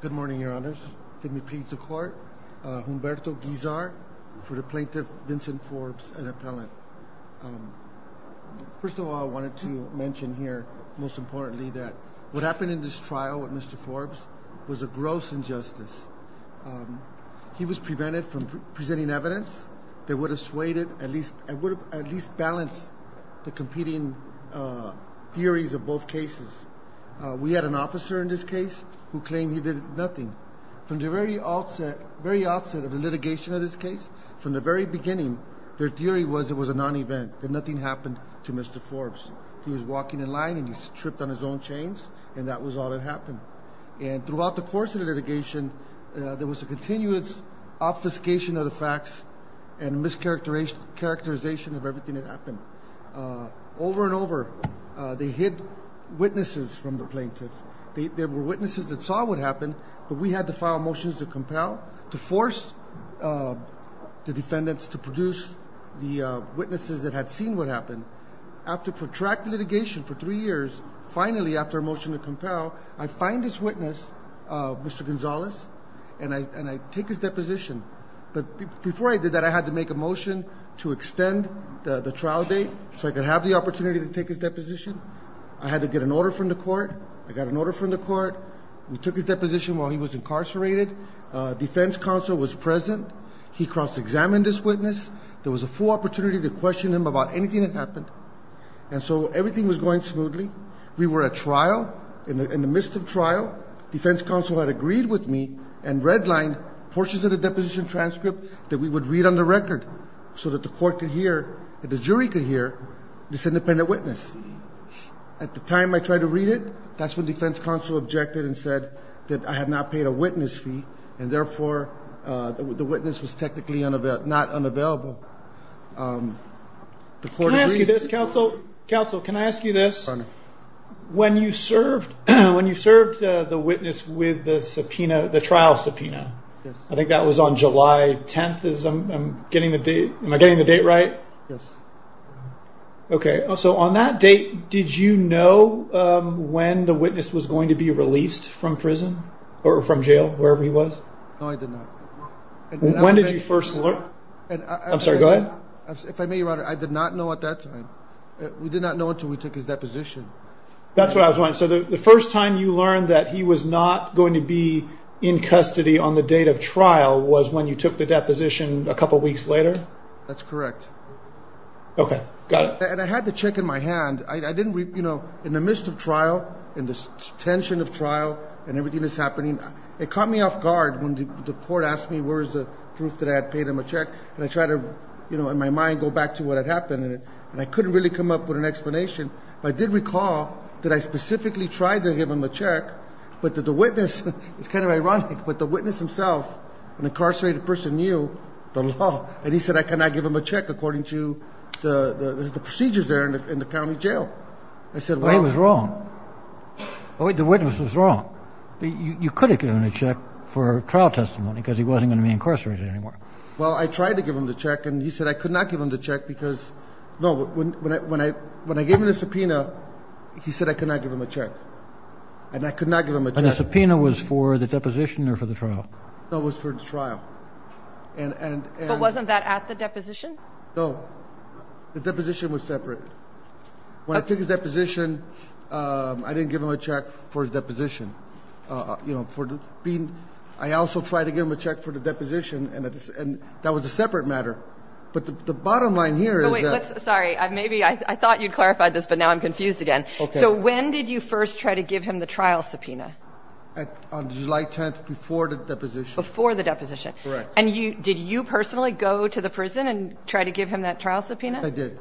Good morning your honors, let me please the court, Humberto Guizar for the plaintiff Vincent Forbes, an appellant. First of all I wanted to mention here most importantly that what happened in this trial with Mr. Forbes was a gross injustice. He was prevented from presenting evidence that would have suaded, at least balanced the competing theories of both cases. We had an officer in this case who claimed he did nothing. From the very outset of the litigation of this case, from the very beginning, their theory was it was a non-event, that nothing happened to Mr. Forbes. He was walking in line and he tripped on his own chains and that was all that happened. And throughout the course of the litigation there was a continuous obfuscation of the facts and mischaracterization of everything that happened. Over and over they hid witnesses from the plaintiff. There were witnesses that saw what happened, but we had to file motions to compel, to force the defendants to produce the witnesses that had seen what happened. After protracted litigation for three years, finally after a motion to compel, I find this witness, Mr. Gonzalez, and I take his deposition. But before I did that I had to make a motion to extend the trial date so I could have the opportunity to take his deposition. I had to get an order from the court. I got an order from the court. We took his deposition while he was incarcerated. Defense counsel was present. He cross-examined this witness. There was a full opportunity to question him about anything that happened. And so everything was going smoothly. We were at trial, in the midst of trial. Defense counsel had agreed with me and redlined portions of the deposition transcript that we would read on the record so that the court could hear, that the jury could hear, this independent witness. At the time I tried to read it, that's when defense counsel objected and said that I had not paid a witness fee and therefore the witness was technically not unavailable. Can I ask you this, counsel? Counsel, can I ask you this? When you served the witness with the trial subpoena, I think that was on July 10th, am I getting the date right? Yes. Okay, so on that date, did you know when the witness was going to be released from prison or from jail, wherever he was? No, I did not. When did you first learn? I'm sorry, go ahead. If I may, Your Honor, I did not know at that time. We did not know until we took his deposition. That's what I was wondering. So the first time you learned that he was not going to be in custody on the date of trial was when you took the deposition a couple weeks later? That's correct. Okay, got it. And I had the check in my hand. In the midst of trial, in the tension of trial and everything that's happening, it caught me off guard when the court asked me where is the proof that I had paid him a check. And I tried to, in my mind, go back to what had happened. And I couldn't really come up with an explanation. But I did recall that I specifically tried to give him a check, but the witness, it's kind of ironic, but the witness himself, an incarcerated person, knew the law. And he said I could not give him a check according to the procedures there in the county jail. Well, he was wrong. The witness was wrong. You could have given him a check for trial testimony because he wasn't going to be incarcerated anymore. Well, I tried to give him the check, and he said I could not give him the check because, no, when I gave him the subpoena, he said I could not give him a check. And I could not give him a check. And the subpoena was for the deposition or for the trial? No, it was for the trial. But wasn't that at the deposition? No. The deposition was separate. When I took his deposition, I didn't give him a check for his deposition. I also tried to give him a check for the deposition, and that was a separate matter. But the bottom line here is that – Sorry. I thought you'd clarified this, but now I'm confused again. So when did you first try to give him the trial subpoena? On July 10th, before the deposition. Before the deposition. Correct. And did you personally go to the prison and try to give him that trial subpoena? I did.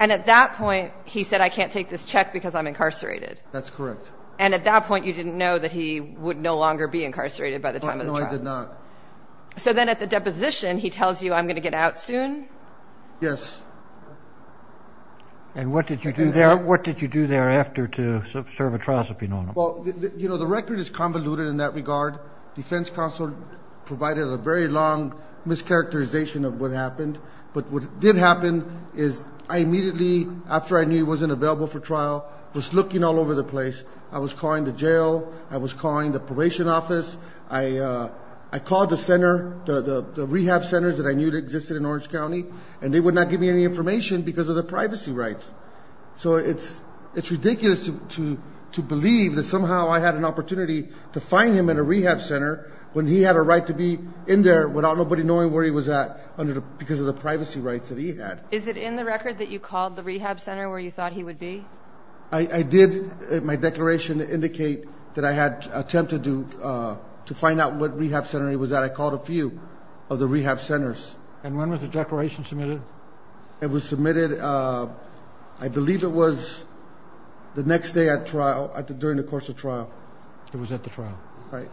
And at that point, he said, I can't take this check because I'm incarcerated? That's correct. And at that point, you didn't know that he would no longer be incarcerated by the time of the trial? No, I did not. So then at the deposition, he tells you, I'm going to get out soon? Yes. And what did you do thereafter to serve a trial subpoena on him? Well, you know, the record is convoluted in that regard. Defense counsel provided a very long mischaracterization of what happened. But what did happen is I immediately, after I knew he wasn't available for trial, was looking all over the place. I was calling the jail. I was calling the probation office. I called the center, the rehab centers that I knew existed in Orange County, and they would not give me any information because of their privacy rights. So it's ridiculous to believe that somehow I had an opportunity to find him in a rehab center when he had a right to be in there without nobody knowing where he was at because of the privacy rights that he had. Is it in the record that you called the rehab center where you thought he would be? I did. My declaration indicated that I had attempted to find out what rehab center he was at. I called a few of the rehab centers. And when was the declaration submitted? It was submitted, I believe it was the next day at trial, during the course of trial. It was at the trial. Right.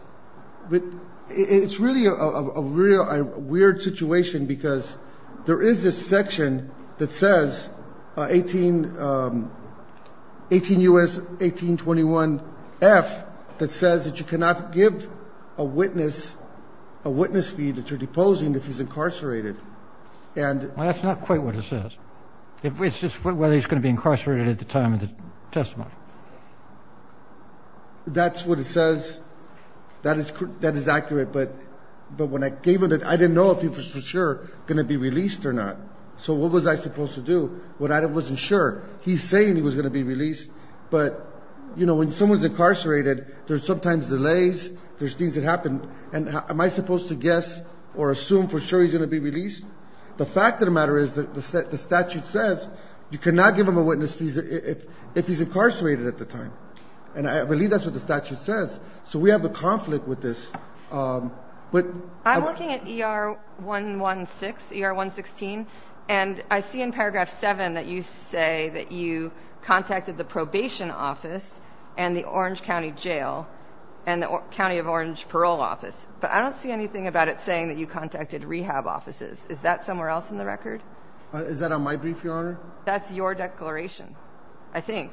It's really a weird situation because there is this section that says, 18 U.S. 1821 F, that says that you cannot give a witness a witness fee that you're deposing if he's incarcerated. Well, that's not quite what it says. It's just whether he's going to be incarcerated at the time of the testimony. That's what it says. That is accurate. But when I gave it, I didn't know if he was for sure going to be released or not. So what was I supposed to do? I wasn't sure. He's saying he was going to be released. But, you know, when someone's incarcerated, there's sometimes delays. There's things that happen. And am I supposed to guess or assume for sure he's going to be released? The fact of the matter is that the statute says you cannot give him a witness fee if he's incarcerated at the time. And I believe that's what the statute says. So we have a conflict with this. I'm looking at ER 116. And I see in paragraph 7 that you say that you contacted the probation office and the Orange County Jail and the County of Orange parole office. But I don't see anything about it saying that you contacted rehab offices. Is that somewhere else in the record? Is that on my brief, Your Honor? That's your declaration, I think.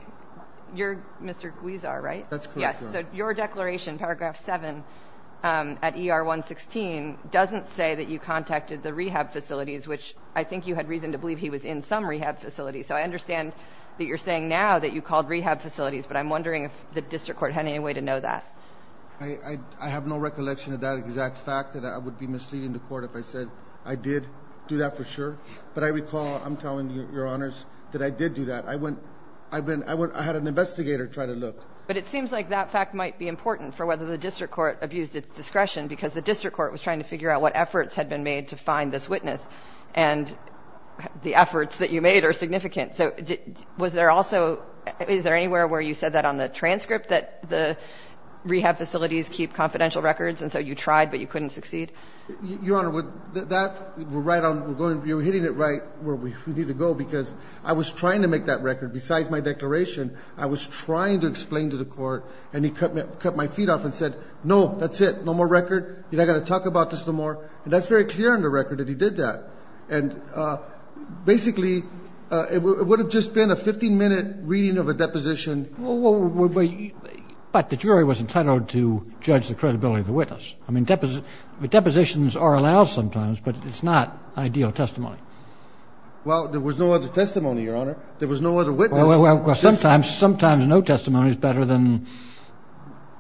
You're Mr. Guizar, right? That's correct, Your Honor. Yes, so your declaration, paragraph 7 at ER 116, doesn't say that you contacted the rehab facilities, which I think you had reason to believe he was in some rehab facilities. So I understand that you're saying now that you called rehab facilities, but I'm wondering if the district court had any way to know that. I have no recollection of that exact fact, that I would be misleading the court if I said I did do that for sure. But I recall, I'm telling you, Your Honors, that I did do that. I had an investigator try to look. But it seems like that fact might be important for whether the district court abused its discretion because the district court was trying to figure out what efforts had been made to find this witness. And the efforts that you made are significant. So was there also, is there anywhere where you said that on the transcript, that the rehab facilities keep confidential records, and so you tried but you couldn't succeed? Your Honor, that, we're right on, you're hitting it right where we need to go because I was trying to make that record. Besides my declaration, I was trying to explain to the court, and he cut my feet off and said, no, that's it, no more record. You're not going to talk about this no more. And that's very clear on the record that he did that. And basically, it would have just been a 15-minute reading of a deposition. But the jury was entitled to judge the credibility of the witness. I mean, depositions are allowed sometimes, but it's not ideal testimony. Well, there was no other testimony, Your Honor. There was no other witness. Well, sometimes no testimony is better than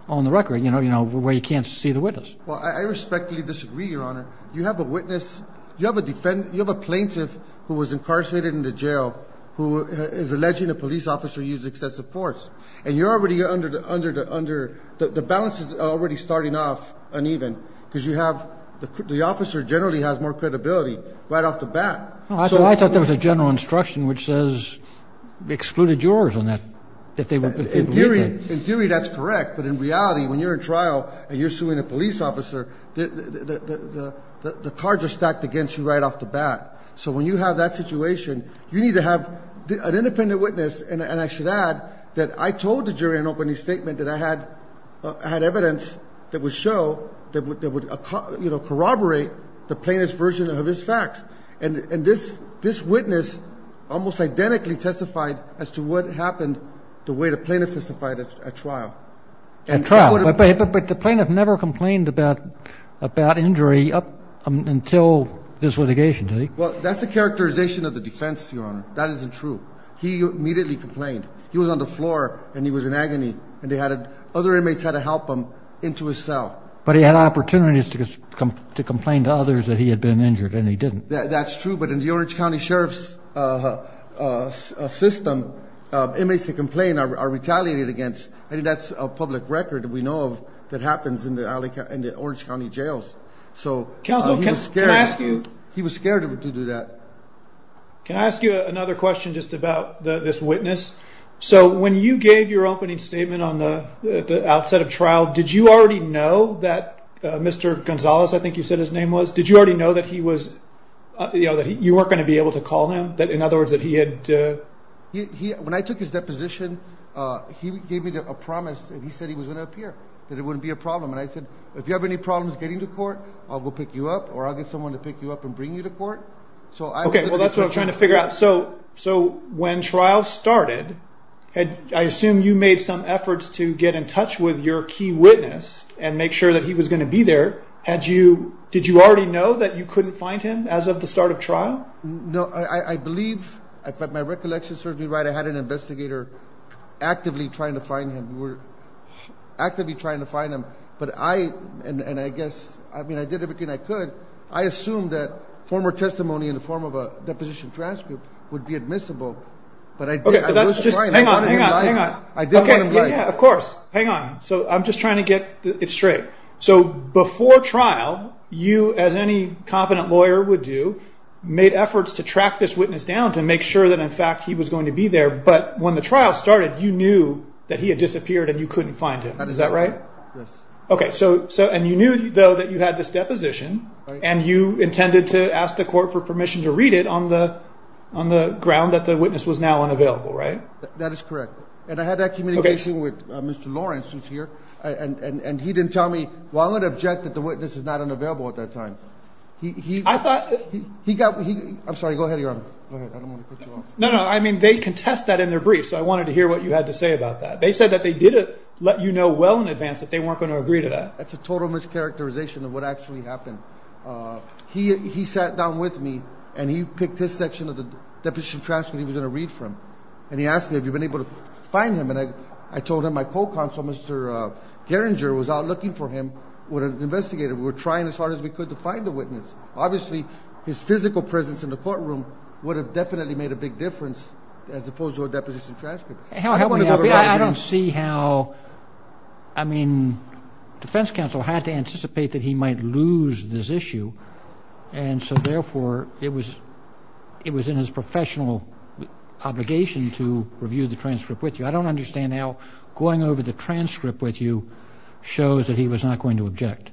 on the record, you know, where you can't see the witness. Well, I respectfully disagree, Your Honor. You have a witness. You have a plaintiff who was incarcerated in the jail who is alleging a police officer used excessive force. And you're already under, the balance is already starting off uneven because you have, the officer generally has more credibility right off the bat. I thought there was a general instruction which says, excluded jurors on that, if they believe that. In theory, that's correct. But in reality, when you're in trial and you're suing a police officer, the cards are stacked against you right off the bat. So when you have that situation, you need to have an independent witness. And I should add that I told the jury in opening statement that I had evidence that would show, that would corroborate the plaintiff's version of his facts. And this witness almost identically testified as to what happened to the way the plaintiff testified at trial. At trial. But the plaintiff never complained about injury up until this litigation, did he? Well, that's a characterization of the defense, Your Honor. That isn't true. He immediately complained. He was on the floor and he was in agony. Other inmates had to help him into his cell. But he had opportunities to complain to others that he had been injured, and he didn't. That's true. But in the Orange County Sheriff's system, inmates that complain are retaliated against. I think that's a public record that we know of that happens in the Orange County jails. So he was scared to do that. Can I ask you another question just about this witness? So when you gave your opening statement at the outset of trial, did you already know that Mr. Gonzalez, I think you said his name was, did you already know that you weren't going to be able to call him? In other words, that he had... When I took his deposition, he gave me a promise that he said he was going to appear, that it wouldn't be a problem. And I said, if you have any problems getting to court, I'll go pick you up, or I'll get someone to pick you up and bring you to court. Okay, well, that's what I'm trying to figure out. So when trial started, I assume you made some efforts to get in touch with your key witness and make sure that he was going to be there. Did you already know that you couldn't find him as of the start of trial? No, I believe, if my recollection serves me right, I had an investigator actively trying to find him. We were actively trying to find him. But I, and I guess, I mean, I did everything I could. I assumed that former testimony in the form of a deposition transcript would be admissible. But I did. Hang on, hang on, hang on. Okay, yeah, of course. Hang on. So I'm just trying to get it straight. So before trial, you, as any competent lawyer would do, made efforts to track this witness down to make sure that, in fact, he was going to be there. But when the trial started, you knew that he had disappeared and you couldn't find him. Is that right? Yes. Okay, so, and you knew, though, that you had this deposition, and you intended to ask the court for permission to read it on the ground that the witness was now unavailable, right? That is correct. And I had that communication with Mr. Lawrence, who's here. And he didn't tell me, well, I'm going to object that the witness is not unavailable at that time. He got, I'm sorry, go ahead, Your Honor. Go ahead. I don't want to cut you off. No, no, I mean, they contest that in their brief, so I wanted to hear what you had to say about that. They said that they didn't let you know well in advance that they weren't going to agree to that. That's a total mischaracterization of what actually happened. He sat down with me, and he picked this section of the deposition transcript he was going to read from. And he asked me, have you been able to find him? And I told him my co-counsel, Mr. Geringer, was out looking for him with an investigator. We were trying as hard as we could to find the witness. Obviously, his physical presence in the courtroom would have definitely made a big difference as opposed to a deposition transcript. I don't see how, I mean, defense counsel had to anticipate that he might lose this issue. And so, therefore, it was in his professional obligation to review the transcript with you. I don't understand how going over the transcript with you shows that he was not going to object.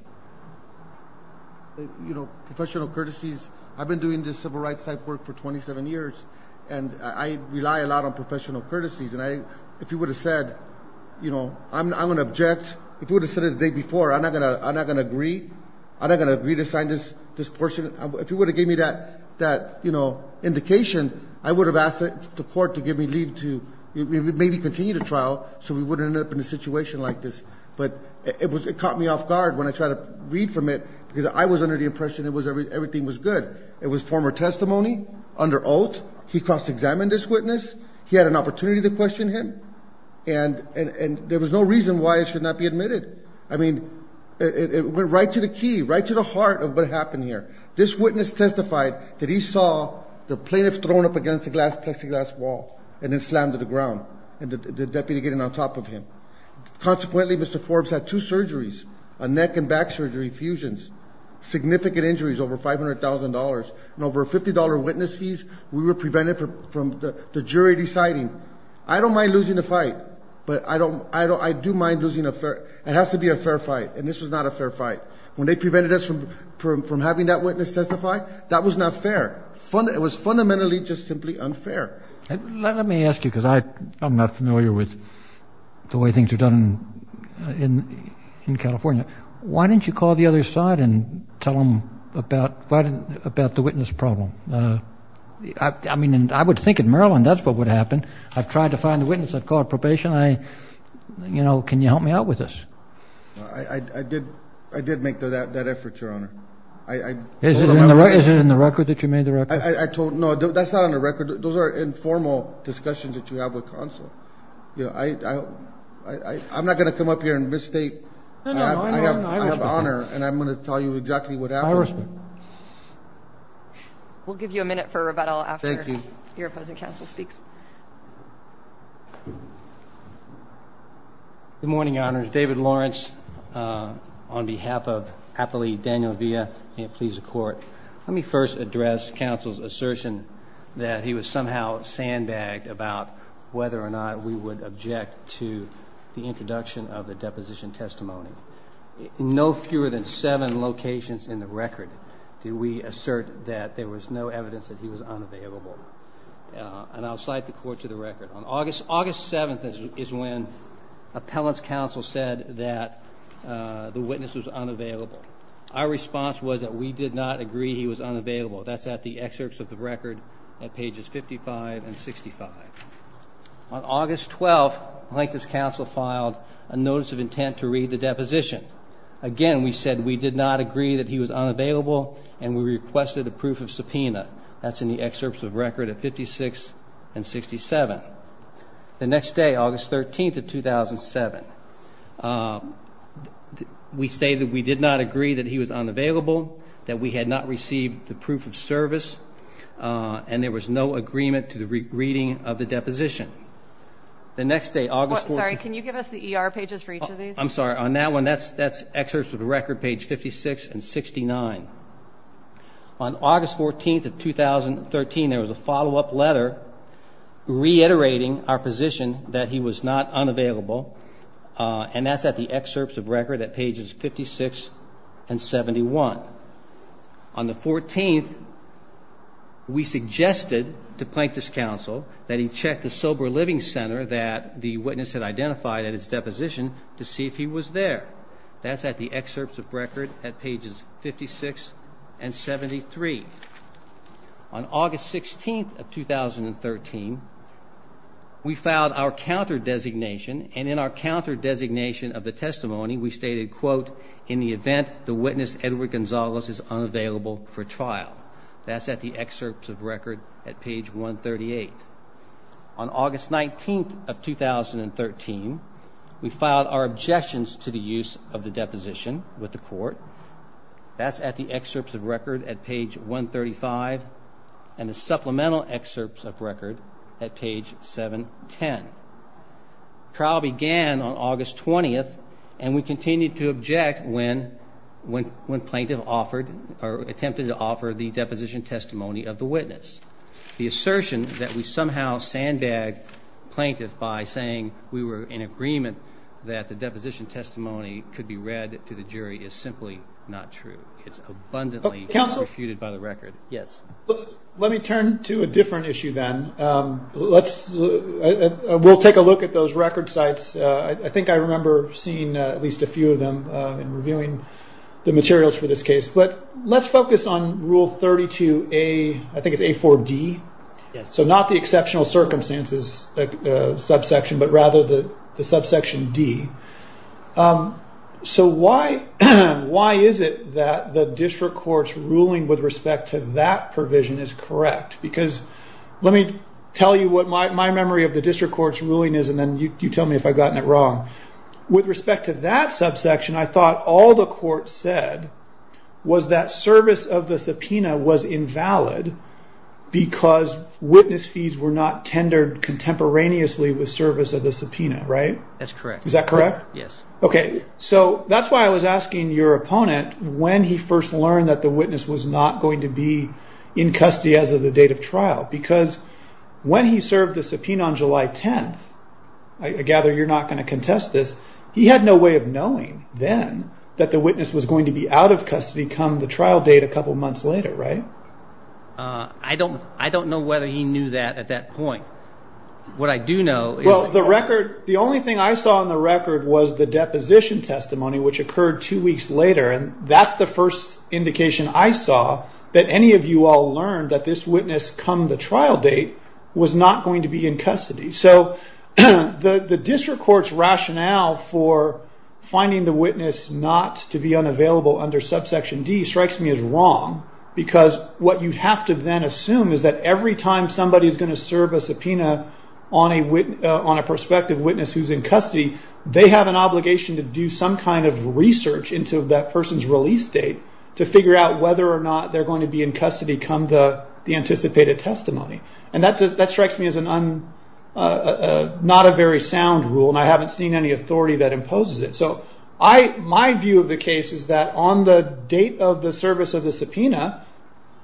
You know, professional courtesies, I've been doing this civil rights type work for 27 years, and I rely a lot on professional courtesies. And if he would have said, you know, I'm going to object, if he would have said it the day before, I'm not going to agree. I'm not going to agree to sign this portion. If he would have given me that indication, I would have asked the court to give me leave to maybe continue the trial so we wouldn't end up in a situation like this. But it caught me off guard when I tried to read from it because I was under the impression everything was good. It was former testimony under oath. He cross-examined this witness. He had an opportunity to question him. And there was no reason why it should not be admitted. I mean, it went right to the key, right to the heart of what happened here. This witness testified that he saw the plaintiff thrown up against the plexiglass wall and then slammed to the ground, the deputy getting on top of him. Consequently, Mr. Forbes had two surgeries, a neck and back surgery, fusions, significant injuries, over $500,000. And over $50 witness fees, we were prevented from the jury deciding. I don't mind losing the fight, but I do mind losing a fair – it has to be a fair fight. And this was not a fair fight. When they prevented us from having that witness testify, that was not fair. It was fundamentally just simply unfair. Let me ask you because I'm not familiar with the way things are done in California. Why didn't you call the other side and tell them about the witness problem? I mean, I would think in Maryland that's what would happen. I've tried to find the witness. I've called probation. I, you know, can you help me out with this? I did make that effort, Your Honor. Is it in the record that you made the record? I told – no, that's not on the record. Those are informal discussions that you have with counsel. You know, I'm not going to come up here and misstate. I have honor, and I'm going to tell you exactly what happened. We'll give you a minute for rebuttal after your opposing counsel speaks. Good morning, Your Honors. David Lawrence on behalf of Apolli Daniel Villa, and it pleases the Court. Let me first address counsel's assertion that he was somehow sandbagged about whether or not we would object to the introduction of the deposition testimony. In no fewer than seven locations in the record did we assert that there was no evidence that he was unavailable. And I'll cite the court to the record. On August 7th is when appellant's counsel said that the witness was unavailable. Our response was that we did not agree he was unavailable. That's at the excerpts of the record at pages 55 and 65. On August 12th, Plaintiff's counsel filed a notice of intent to read the deposition. Again, we said we did not agree that he was unavailable, and we requested a proof of subpoena. That's in the excerpts of the record at 56 and 67. The next day, August 13th of 2007, we stated we did not agree that he was unavailable, that we had not received the proof of service, and there was no agreement to the reading of the deposition. The next day, August 14th. Sorry, can you give us the ER pages for each of these? I'm sorry. On that one, that's excerpts of the record, page 56 and 69. On August 14th of 2013, there was a follow-up letter reiterating our position that he was not unavailable, and that's at the excerpts of record at pages 56 and 71. On the 14th, we suggested to Plaintiff's counsel that he check the sober living center that the witness had identified at his deposition to see if he was there. That's at the excerpts of record at pages 56 and 73. On August 16th of 2013, we filed our counter-designation, and in our counter-designation of the testimony, we stated, quote, in the event the witness, Edward Gonzalez, is unavailable for trial. That's at the excerpts of record at page 138. On August 19th of 2013, we filed our objections to the use of the deposition with the court. That's at the excerpts of record at page 135 and the supplemental excerpts of record at page 710. Trial began on August 20th, and we continued to object when plaintiff offered or attempted to offer the deposition testimony of the witness. The assertion that we somehow sandbagged plaintiff by saying we were in agreement that the deposition testimony could be read to the jury is simply not true. It's abundantly refuted by the record. Let me turn to a different issue then. We'll take a look at those record sites. I think I remember seeing at least a few of them in reviewing the materials for this case, but let's focus on Rule 32A, I think it's A4D. Not the exceptional circumstances subsection, but rather the subsection D. Why is it that the district court's ruling with respect to that provision is correct? Let me tell you what my memory of the district court's ruling is, and then you tell me if I've gotten it wrong. With respect to that subsection, I thought all the court said was that service of the subpoena was invalid because witness fees were not tendered contemporaneously with service of the subpoena, right? That's correct. Is that correct? Yes. That's why I was asking your opponent when he first learned that the witness was not going to be in custody as of the date of trial, because when he served the subpoena on July 10th, I gather you're not going to contest this, he had no way of knowing then that the witness was going to be out of custody come the trial date a couple months later, right? I don't know whether he knew that at that point. What I do know is that- Well, the only thing I saw on the record was the deposition testimony, which occurred two weeks later, and that's the first indication I saw that any of you all learned that this witness come the trial date was not going to be in custody. The district court's rationale for finding the witness not to be unavailable under subsection D strikes me as wrong, because what you have to then assume is that every time somebody is going to serve a subpoena on a prospective witness who's in custody, they have an obligation to do some kind of research into that person's release date to figure out whether or not they're going to be in custody come the anticipated testimony. That strikes me as not a very sound rule, and I haven't seen any authority that imposes it. My view of the case is that on the date of the service of the subpoena,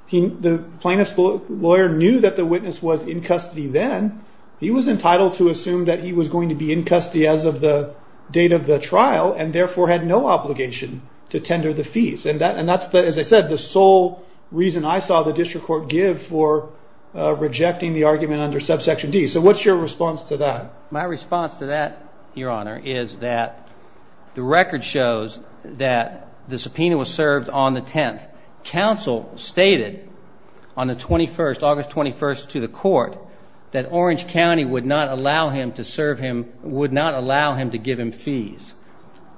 the plaintiff's lawyer knew that the witness was in custody then. He was entitled to assume that he was going to be in custody as of the date of the trial, and therefore had no obligation to tender the fees. And that's, as I said, the sole reason I saw the district court give for rejecting the argument under subsection D. So what's your response to that? My response to that, Your Honor, is that the record shows that the subpoena was served on the 10th. Counsel stated on the 21st, August 21st, to the court that Orange County would not allow him to serve him, would not allow him to give him fees.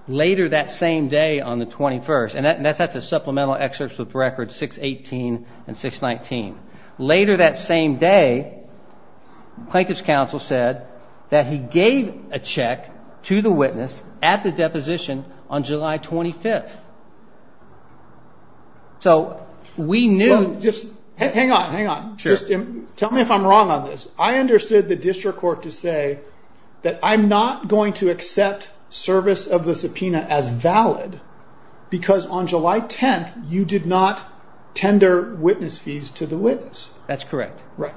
Later that same day on the 21st, and that's a supplemental excerpt with records 618 and 619. Later that same day, plaintiff's counsel said that he gave a check to the witness at the deposition on July 25th. So we knew... Hang on, hang on. Tell me if I'm wrong on this. I understood the district court to say that I'm not going to accept service of the subpoena as valid, because on July 10th, you did not tender witness fees to the witness. That's correct. Right.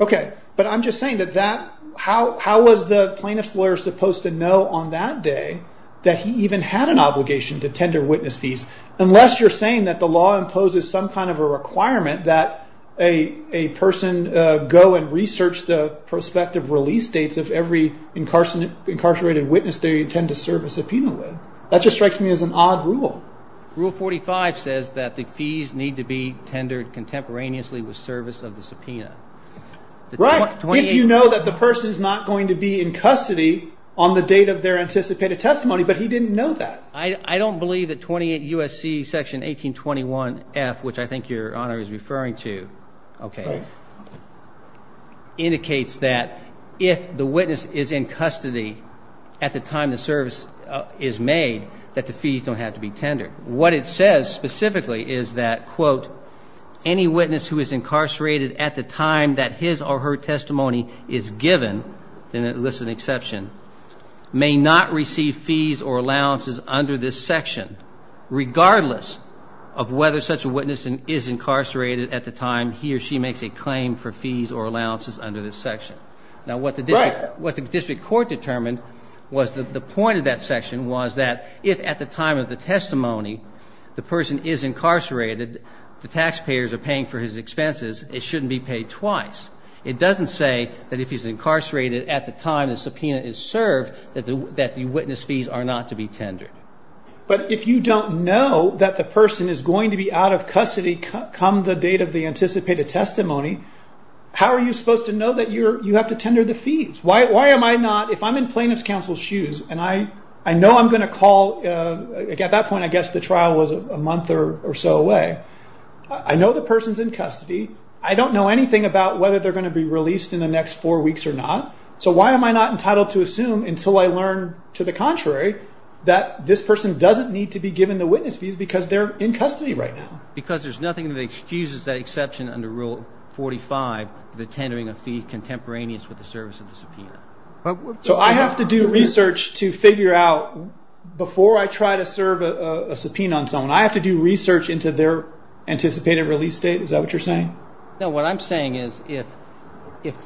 Okay, but I'm just saying that that... How was the plaintiff's lawyer supposed to know on that day that he even had an obligation to tender witness fees, unless you're saying that the law imposes some kind of a requirement that a person go and research the prospective release dates of every incarcerated witness they intend to serve a subpoena with. That just strikes me as an odd rule. Rule 45 says that the fees need to be tendered contemporaneously with service of the subpoena. Right, if you know that the person's not going to be in custody on the date of their anticipated testimony, but he didn't know that. I don't believe that 28 U.S.C. Section 1821F, which I think Your Honor is referring to, okay, indicates that if the witness is in custody at the time the service is made, that the fees don't have to be tendered. What it says specifically is that, quote, any witness who is incarcerated at the time that his or her testimony is given, and it lists an exception, may not receive fees or allowances under this section, regardless of whether such a witness is incarcerated at the time he or she makes a claim for fees or allowances under this section. Now, what the district court determined was the point of that section was that if at the time of the testimony, the person is incarcerated, the taxpayers are paying for his expenses, it shouldn't be paid twice. It doesn't say that if he's incarcerated at the time the subpoena is served, that the witness fees are not to be tendered. But if you don't know that the person is going to be out of custody come the date of the anticipated testimony, how are you supposed to know that you have to tender the fees? Why am I not, if I'm in plaintiff's counsel's shoes, and I know I'm going to call, at that point I guess the trial was a month or so away, I know the person's in custody. I don't know anything about whether they're going to be released in the next four weeks or not. So why am I not entitled to assume until I learn, to the contrary, that this person doesn't need to be given the witness fees because they're in custody right now? Because there's nothing that excuses that exception under Rule 45, the tendering of fees contemporaneous with the service of the subpoena. So I have to do research to figure out, before I try to serve a subpoena on someone, I have to do research into their anticipated release date, is that what you're saying? No, what I'm saying is if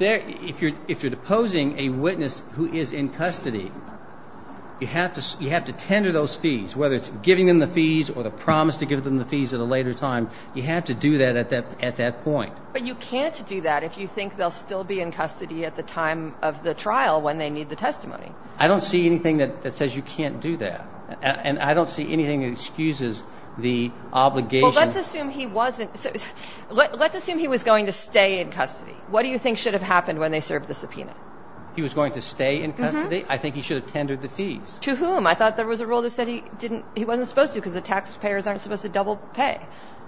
you're deposing a witness who is in custody, you have to tender those fees, whether it's giving them the fees or the promise to give them the fees at a later time, you have to do that at that point. But you can't do that if you think they'll still be in custody at the time of the trial when they need the testimony. I don't see anything that says you can't do that. And I don't see anything that excuses the obligation. Well, let's assume he wasn't. Let's assume he was going to stay in custody. What do you think should have happened when they served the subpoena? He was going to stay in custody? I think he should have tendered the fees. To whom? I thought there was a rule that said he wasn't supposed to because the taxpayers aren't supposed to double pay.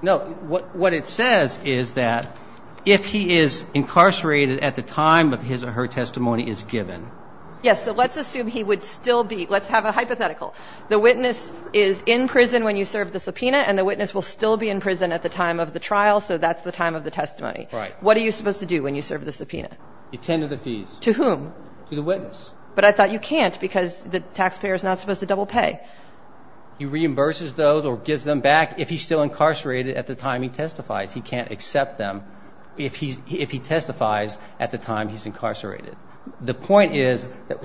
No, what it says is that if he is incarcerated at the time of his or her testimony is given. Yes, so let's assume he would still be. Let's have a hypothetical. The witness is in prison when you serve the subpoena, and the witness will still be in prison at the time of the trial, so that's the time of the testimony. Right. What are you supposed to do when you serve the subpoena? You tender the fees. To whom? To the witness. But I thought you can't because the taxpayer is not supposed to double pay. He reimburses those or gives them back if he's still incarcerated at the time he testifies. He can't accept them if he testifies at the time he's incarcerated. The point is that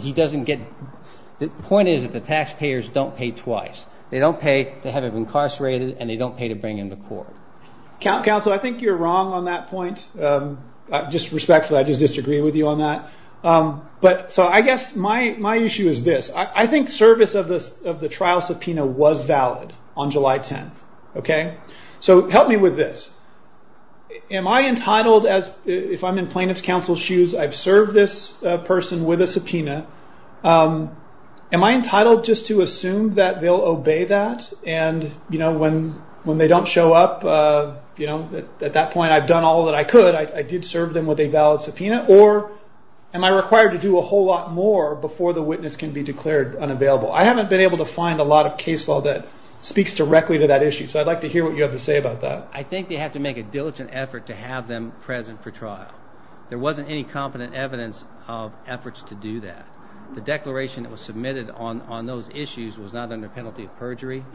the taxpayers don't pay twice. They don't pay to have him incarcerated, and they don't pay to bring him to court. Counsel, I think you're wrong on that point. Just respectfully, I just disagree with you on that. So I guess my issue is this. I think service of the trial subpoena was valid on July 10th. So help me with this. Am I entitled, if I'm in plaintiff's counsel's shoes, I've served this person with a subpoena, am I entitled just to assume that they'll obey that and when they don't show up, at that point I've done all that I could. I did serve them with a valid subpoena, or am I required to do a whole lot more before the witness can be declared unavailable? I haven't been able to find a lot of case law that speaks directly to that issue, so I'd like to hear what you have to say about that. I think they have to make a diligent effort to have them present for trial. There wasn't any competent evidence of efforts to do that. The declaration that was submitted on those issues was not under penalty of perjury.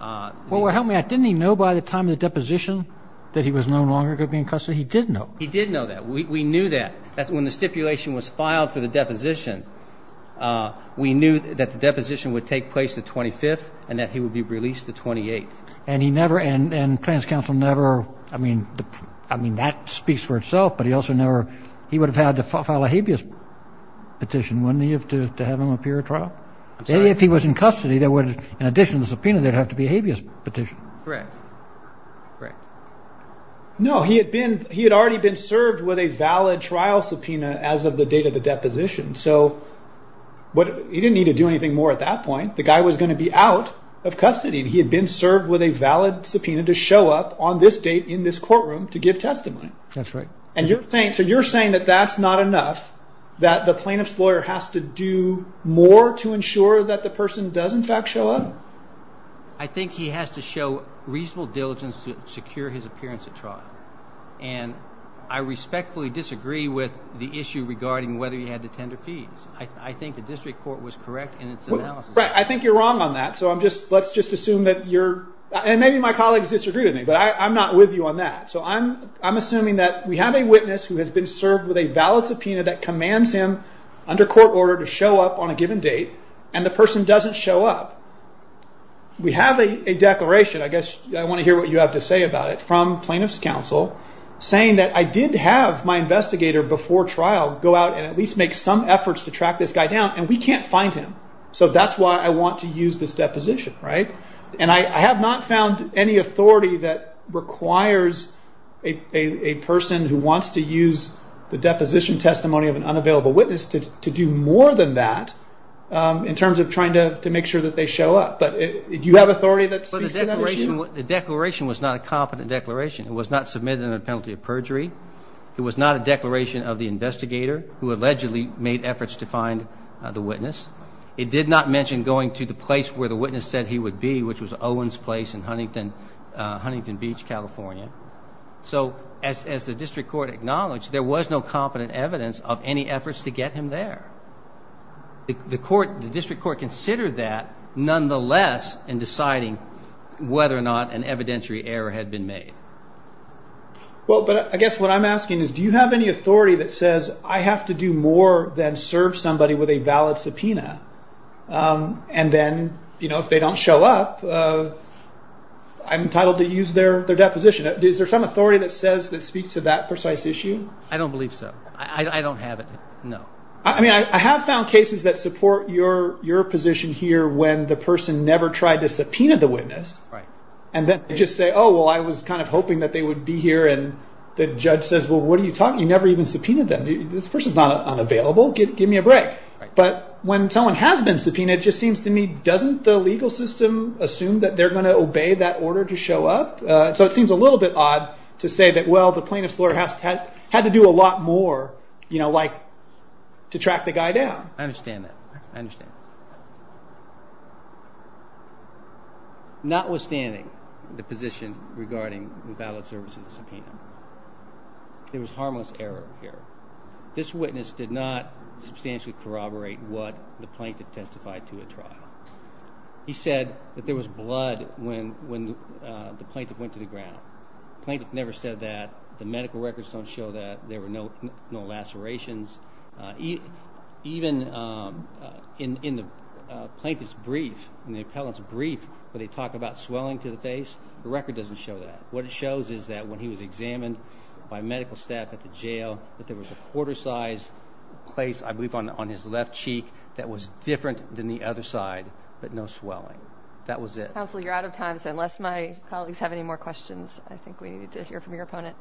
Well, help me out. Didn't he know by the time of the deposition that he was no longer going to be in custody? He did know. He did know that. We knew that. When the stipulation was filed for the deposition, we knew that the deposition would take place the 25th and that he would be released the 28th. And he never, and Plans Council never, I mean that speaks for itself, but he also never, he would have had to file a habeas petition, wouldn't he, to have him appear at trial? If he was in custody, in addition to the subpoena, there would have to be a habeas petition. Correct. No, he had already been served with a valid trial subpoena as of the date of the deposition, so he didn't need to do anything more at that point. The guy was going to be out of custody. He had been served with a valid subpoena to show up on this date in this courtroom to give testimony. That's right. So you're saying that that's not enough, that the plaintiff's lawyer has to do more to ensure that the person does in fact show up? I think he has to show reasonable diligence to secure his appearance at trial, and I respectfully disagree with the issue regarding whether he had to tender fees. I think the district court was correct in its analysis. I think you're wrong on that, so let's just assume that you're, and maybe my colleagues disagree with me, but I'm not with you on that. So I'm assuming that we have a witness who has been served with a valid subpoena that commands him under court order to show up on a given date, and the person doesn't show up. We have a declaration, I guess I want to hear what you have to say about it, from plaintiff's counsel saying that I did have my investigator before trial go out and at least make some efforts to track this guy down, and we can't find him. So that's why I want to use this deposition, right? And I have not found any authority that requires a person who wants to use the deposition testimony of an unavailable witness to do more than that in terms of trying to make sure that they show up. But do you have authority to speak to that issue? The declaration was not a competent declaration. It was not submitted under the penalty of perjury. It was not a declaration of the investigator who allegedly made efforts to find the witness. It did not mention going to the place where the witness said he would be, which was Owens Place in Huntington Beach, California. So as the district court acknowledged, there was no competent evidence of any efforts to get him there. The district court considered that, nonetheless, in deciding whether or not an evidentiary error had been made. Well, but I guess what I'm asking is do you have any authority that says I have to do more than serve somebody with a valid subpoena, and then if they don't show up, I'm entitled to use their deposition? Is there some authority that says that speaks to that precise issue? I don't believe so. I don't have it, no. I mean, I have found cases that support your position here when the person never tried to subpoena the witness, and then they just say, oh, well, I was kind of hoping that they would be here, and the judge says, well, what are you talking about? You never even subpoenaed them. This person's not unavailable. Give me a break. But when someone has been subpoenaed, it just seems to me, doesn't the legal system assume that they're going to obey that order to show up? So it seems a little bit odd to say that, well, the plaintiff's lawyer had to do a lot more to track the guy down. I understand that. I understand. Notwithstanding the position regarding the valid service of the subpoena, there was harmless error here. This witness did not substantially corroborate what the plaintiff testified to at trial. He said that there was blood when the plaintiff went to the ground. The plaintiff never said that. The medical records don't show that. Even in the plaintiff's brief, in the appellant's brief, where they talk about swelling to the face, the record doesn't show that. What it shows is that when he was examined by medical staff at the jail, that there was a quarter-sized place, I believe, on his left cheek that was different than the other side, but no swelling. That was it. Counsel, you're out of time, so unless my colleagues have any more questions, I think we need to hear from your opponent.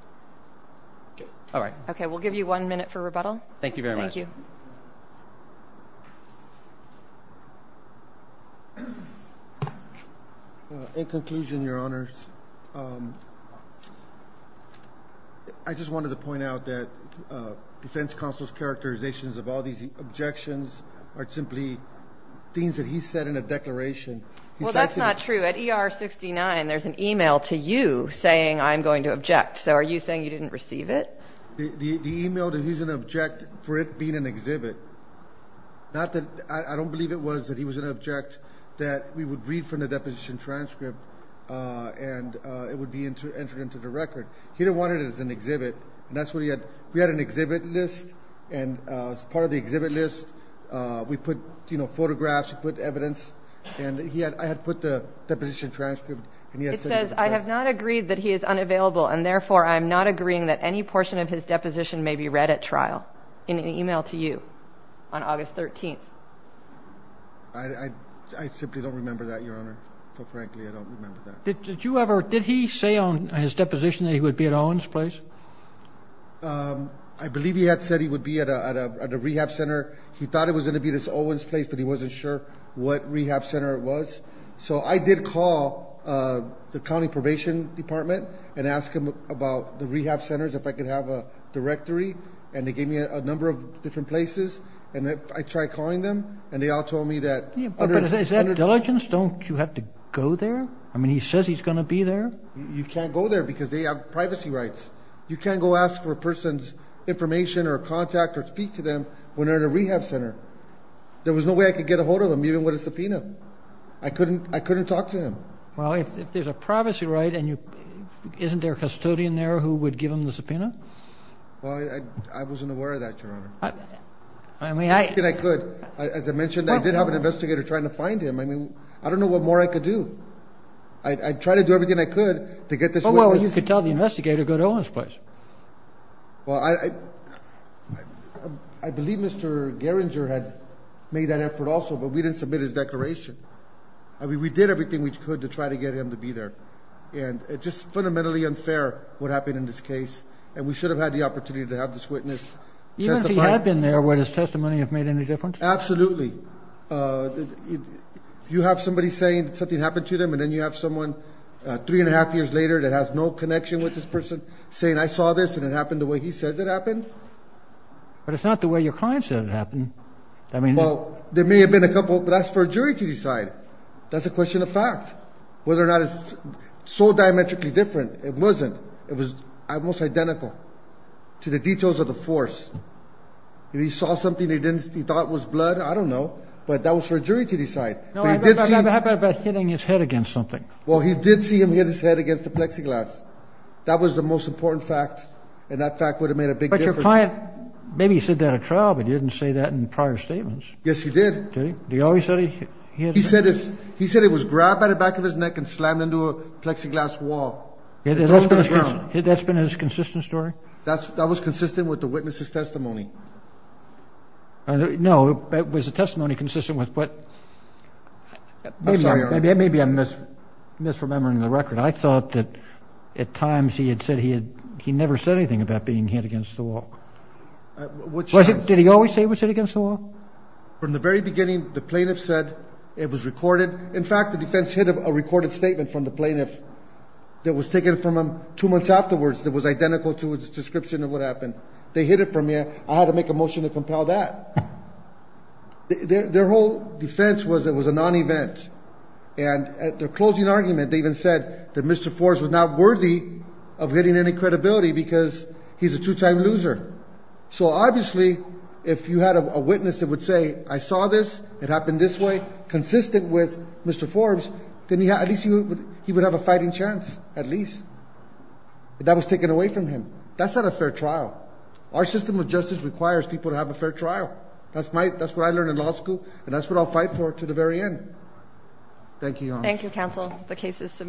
All right. Okay, we'll give you one minute for rebuttal. Thank you very much. Thank you. In conclusion, Your Honors, I just wanted to point out that defense counsel's characterizations of all these objections are simply things that he said in a declaration. Well, that's not true. At ER 69, there's an email to you saying, I'm going to object. So are you saying you didn't receive it? The email that he's going to object for it being an exhibit. I don't believe it was that he was going to object that we would read from the deposition transcript and it would be entered into the record. He didn't want it as an exhibit, and that's what he had. We had an exhibit list, and as part of the exhibit list, we put photographs, we put evidence, and I had put the deposition transcript. It says, I have not agreed that he is unavailable, and therefore I am not agreeing that any portion of his deposition may be read at trial, in an email to you on August 13th. I simply don't remember that, Your Honor. Quite frankly, I don't remember that. Did he say on his deposition that he would be at Owen's place? I believe he had said he would be at a rehab center. He thought it was going to be this Owen's place, but he wasn't sure what rehab center it was. So I did call the county probation department and ask them about the rehab centers, if I could have a directory, and they gave me a number of different places, and I tried calling them, and they all told me that under- But is that diligence? Don't you have to go there? I mean, he says he's going to be there. You can't go there because they have privacy rights. You can't go ask for a person's information or contact or speak to them when they're at a rehab center. There was no way I could get a hold of him, even with a subpoena. I couldn't talk to him. Well, if there's a privacy right, isn't there a custodian there who would give him the subpoena? Well, I wasn't aware of that, Your Honor. I mean, I- Everything I could. As I mentioned, I did have an investigator trying to find him. I mean, I don't know what more I could do. I tried to do everything I could to get this witness- Well, you could tell the investigator to go to Owen's place. Well, I believe Mr. Gerringer had made that effort also, but we didn't submit his declaration. I mean, we did everything we could to try to get him to be there, and it's just fundamentally unfair what happened in this case, and we should have had the opportunity to have this witness testify. Even if he had been there, would his testimony have made any difference? Absolutely. You have somebody saying that something happened to them, and then you have someone three and a half years later that has no connection with this person saying, I saw this and it happened the way he says it happened. But it's not the way your client said it happened. Well, there may have been a couple, but that's for a jury to decide. That's a question of fact. Whether or not it's so diametrically different, it wasn't. It was almost identical to the details of the force. If he saw something he thought was blood, I don't know, but that was for a jury to decide. How about hitting his head against something? Well, he did see him hit his head against the plexiglass. That was the most important fact, and that fact would have made a big difference. But your client, maybe he said that at trial, but he didn't say that in prior statements. Yes, he did. Did he always say he hit his head? He said it was grabbed by the back of his neck and slammed into a plexiglass wall. That was consistent with the witness's testimony. No, it was a testimony consistent with what? I'm sorry, Your Honor. Maybe I'm misremembering the record. I thought that at times he had said he never said anything about being hit against the wall. Did he always say it was hit against the wall? From the very beginning, the plaintiff said it was recorded. In fact, the defense hid a recorded statement from the plaintiff that was taken from him two months afterwards that was identical to his description of what happened. They hid it from you. I had to make a motion to compel that. Their whole defense was it was a non-event. And at their closing argument, they even said that Mr. Forbes was not worthy of getting any credibility because he's a two-time loser. So obviously, if you had a witness that would say, I saw this, it happened this way, consistent with Mr. Forbes, then at least he would have a fighting chance, at least. That was taken away from him. That's not a fair trial. Our system of justice requires people to have a fair trial. That's what I learned in law school, and that's what I'll fight for to the very end. Thank you, Your Honor. The case is submitted.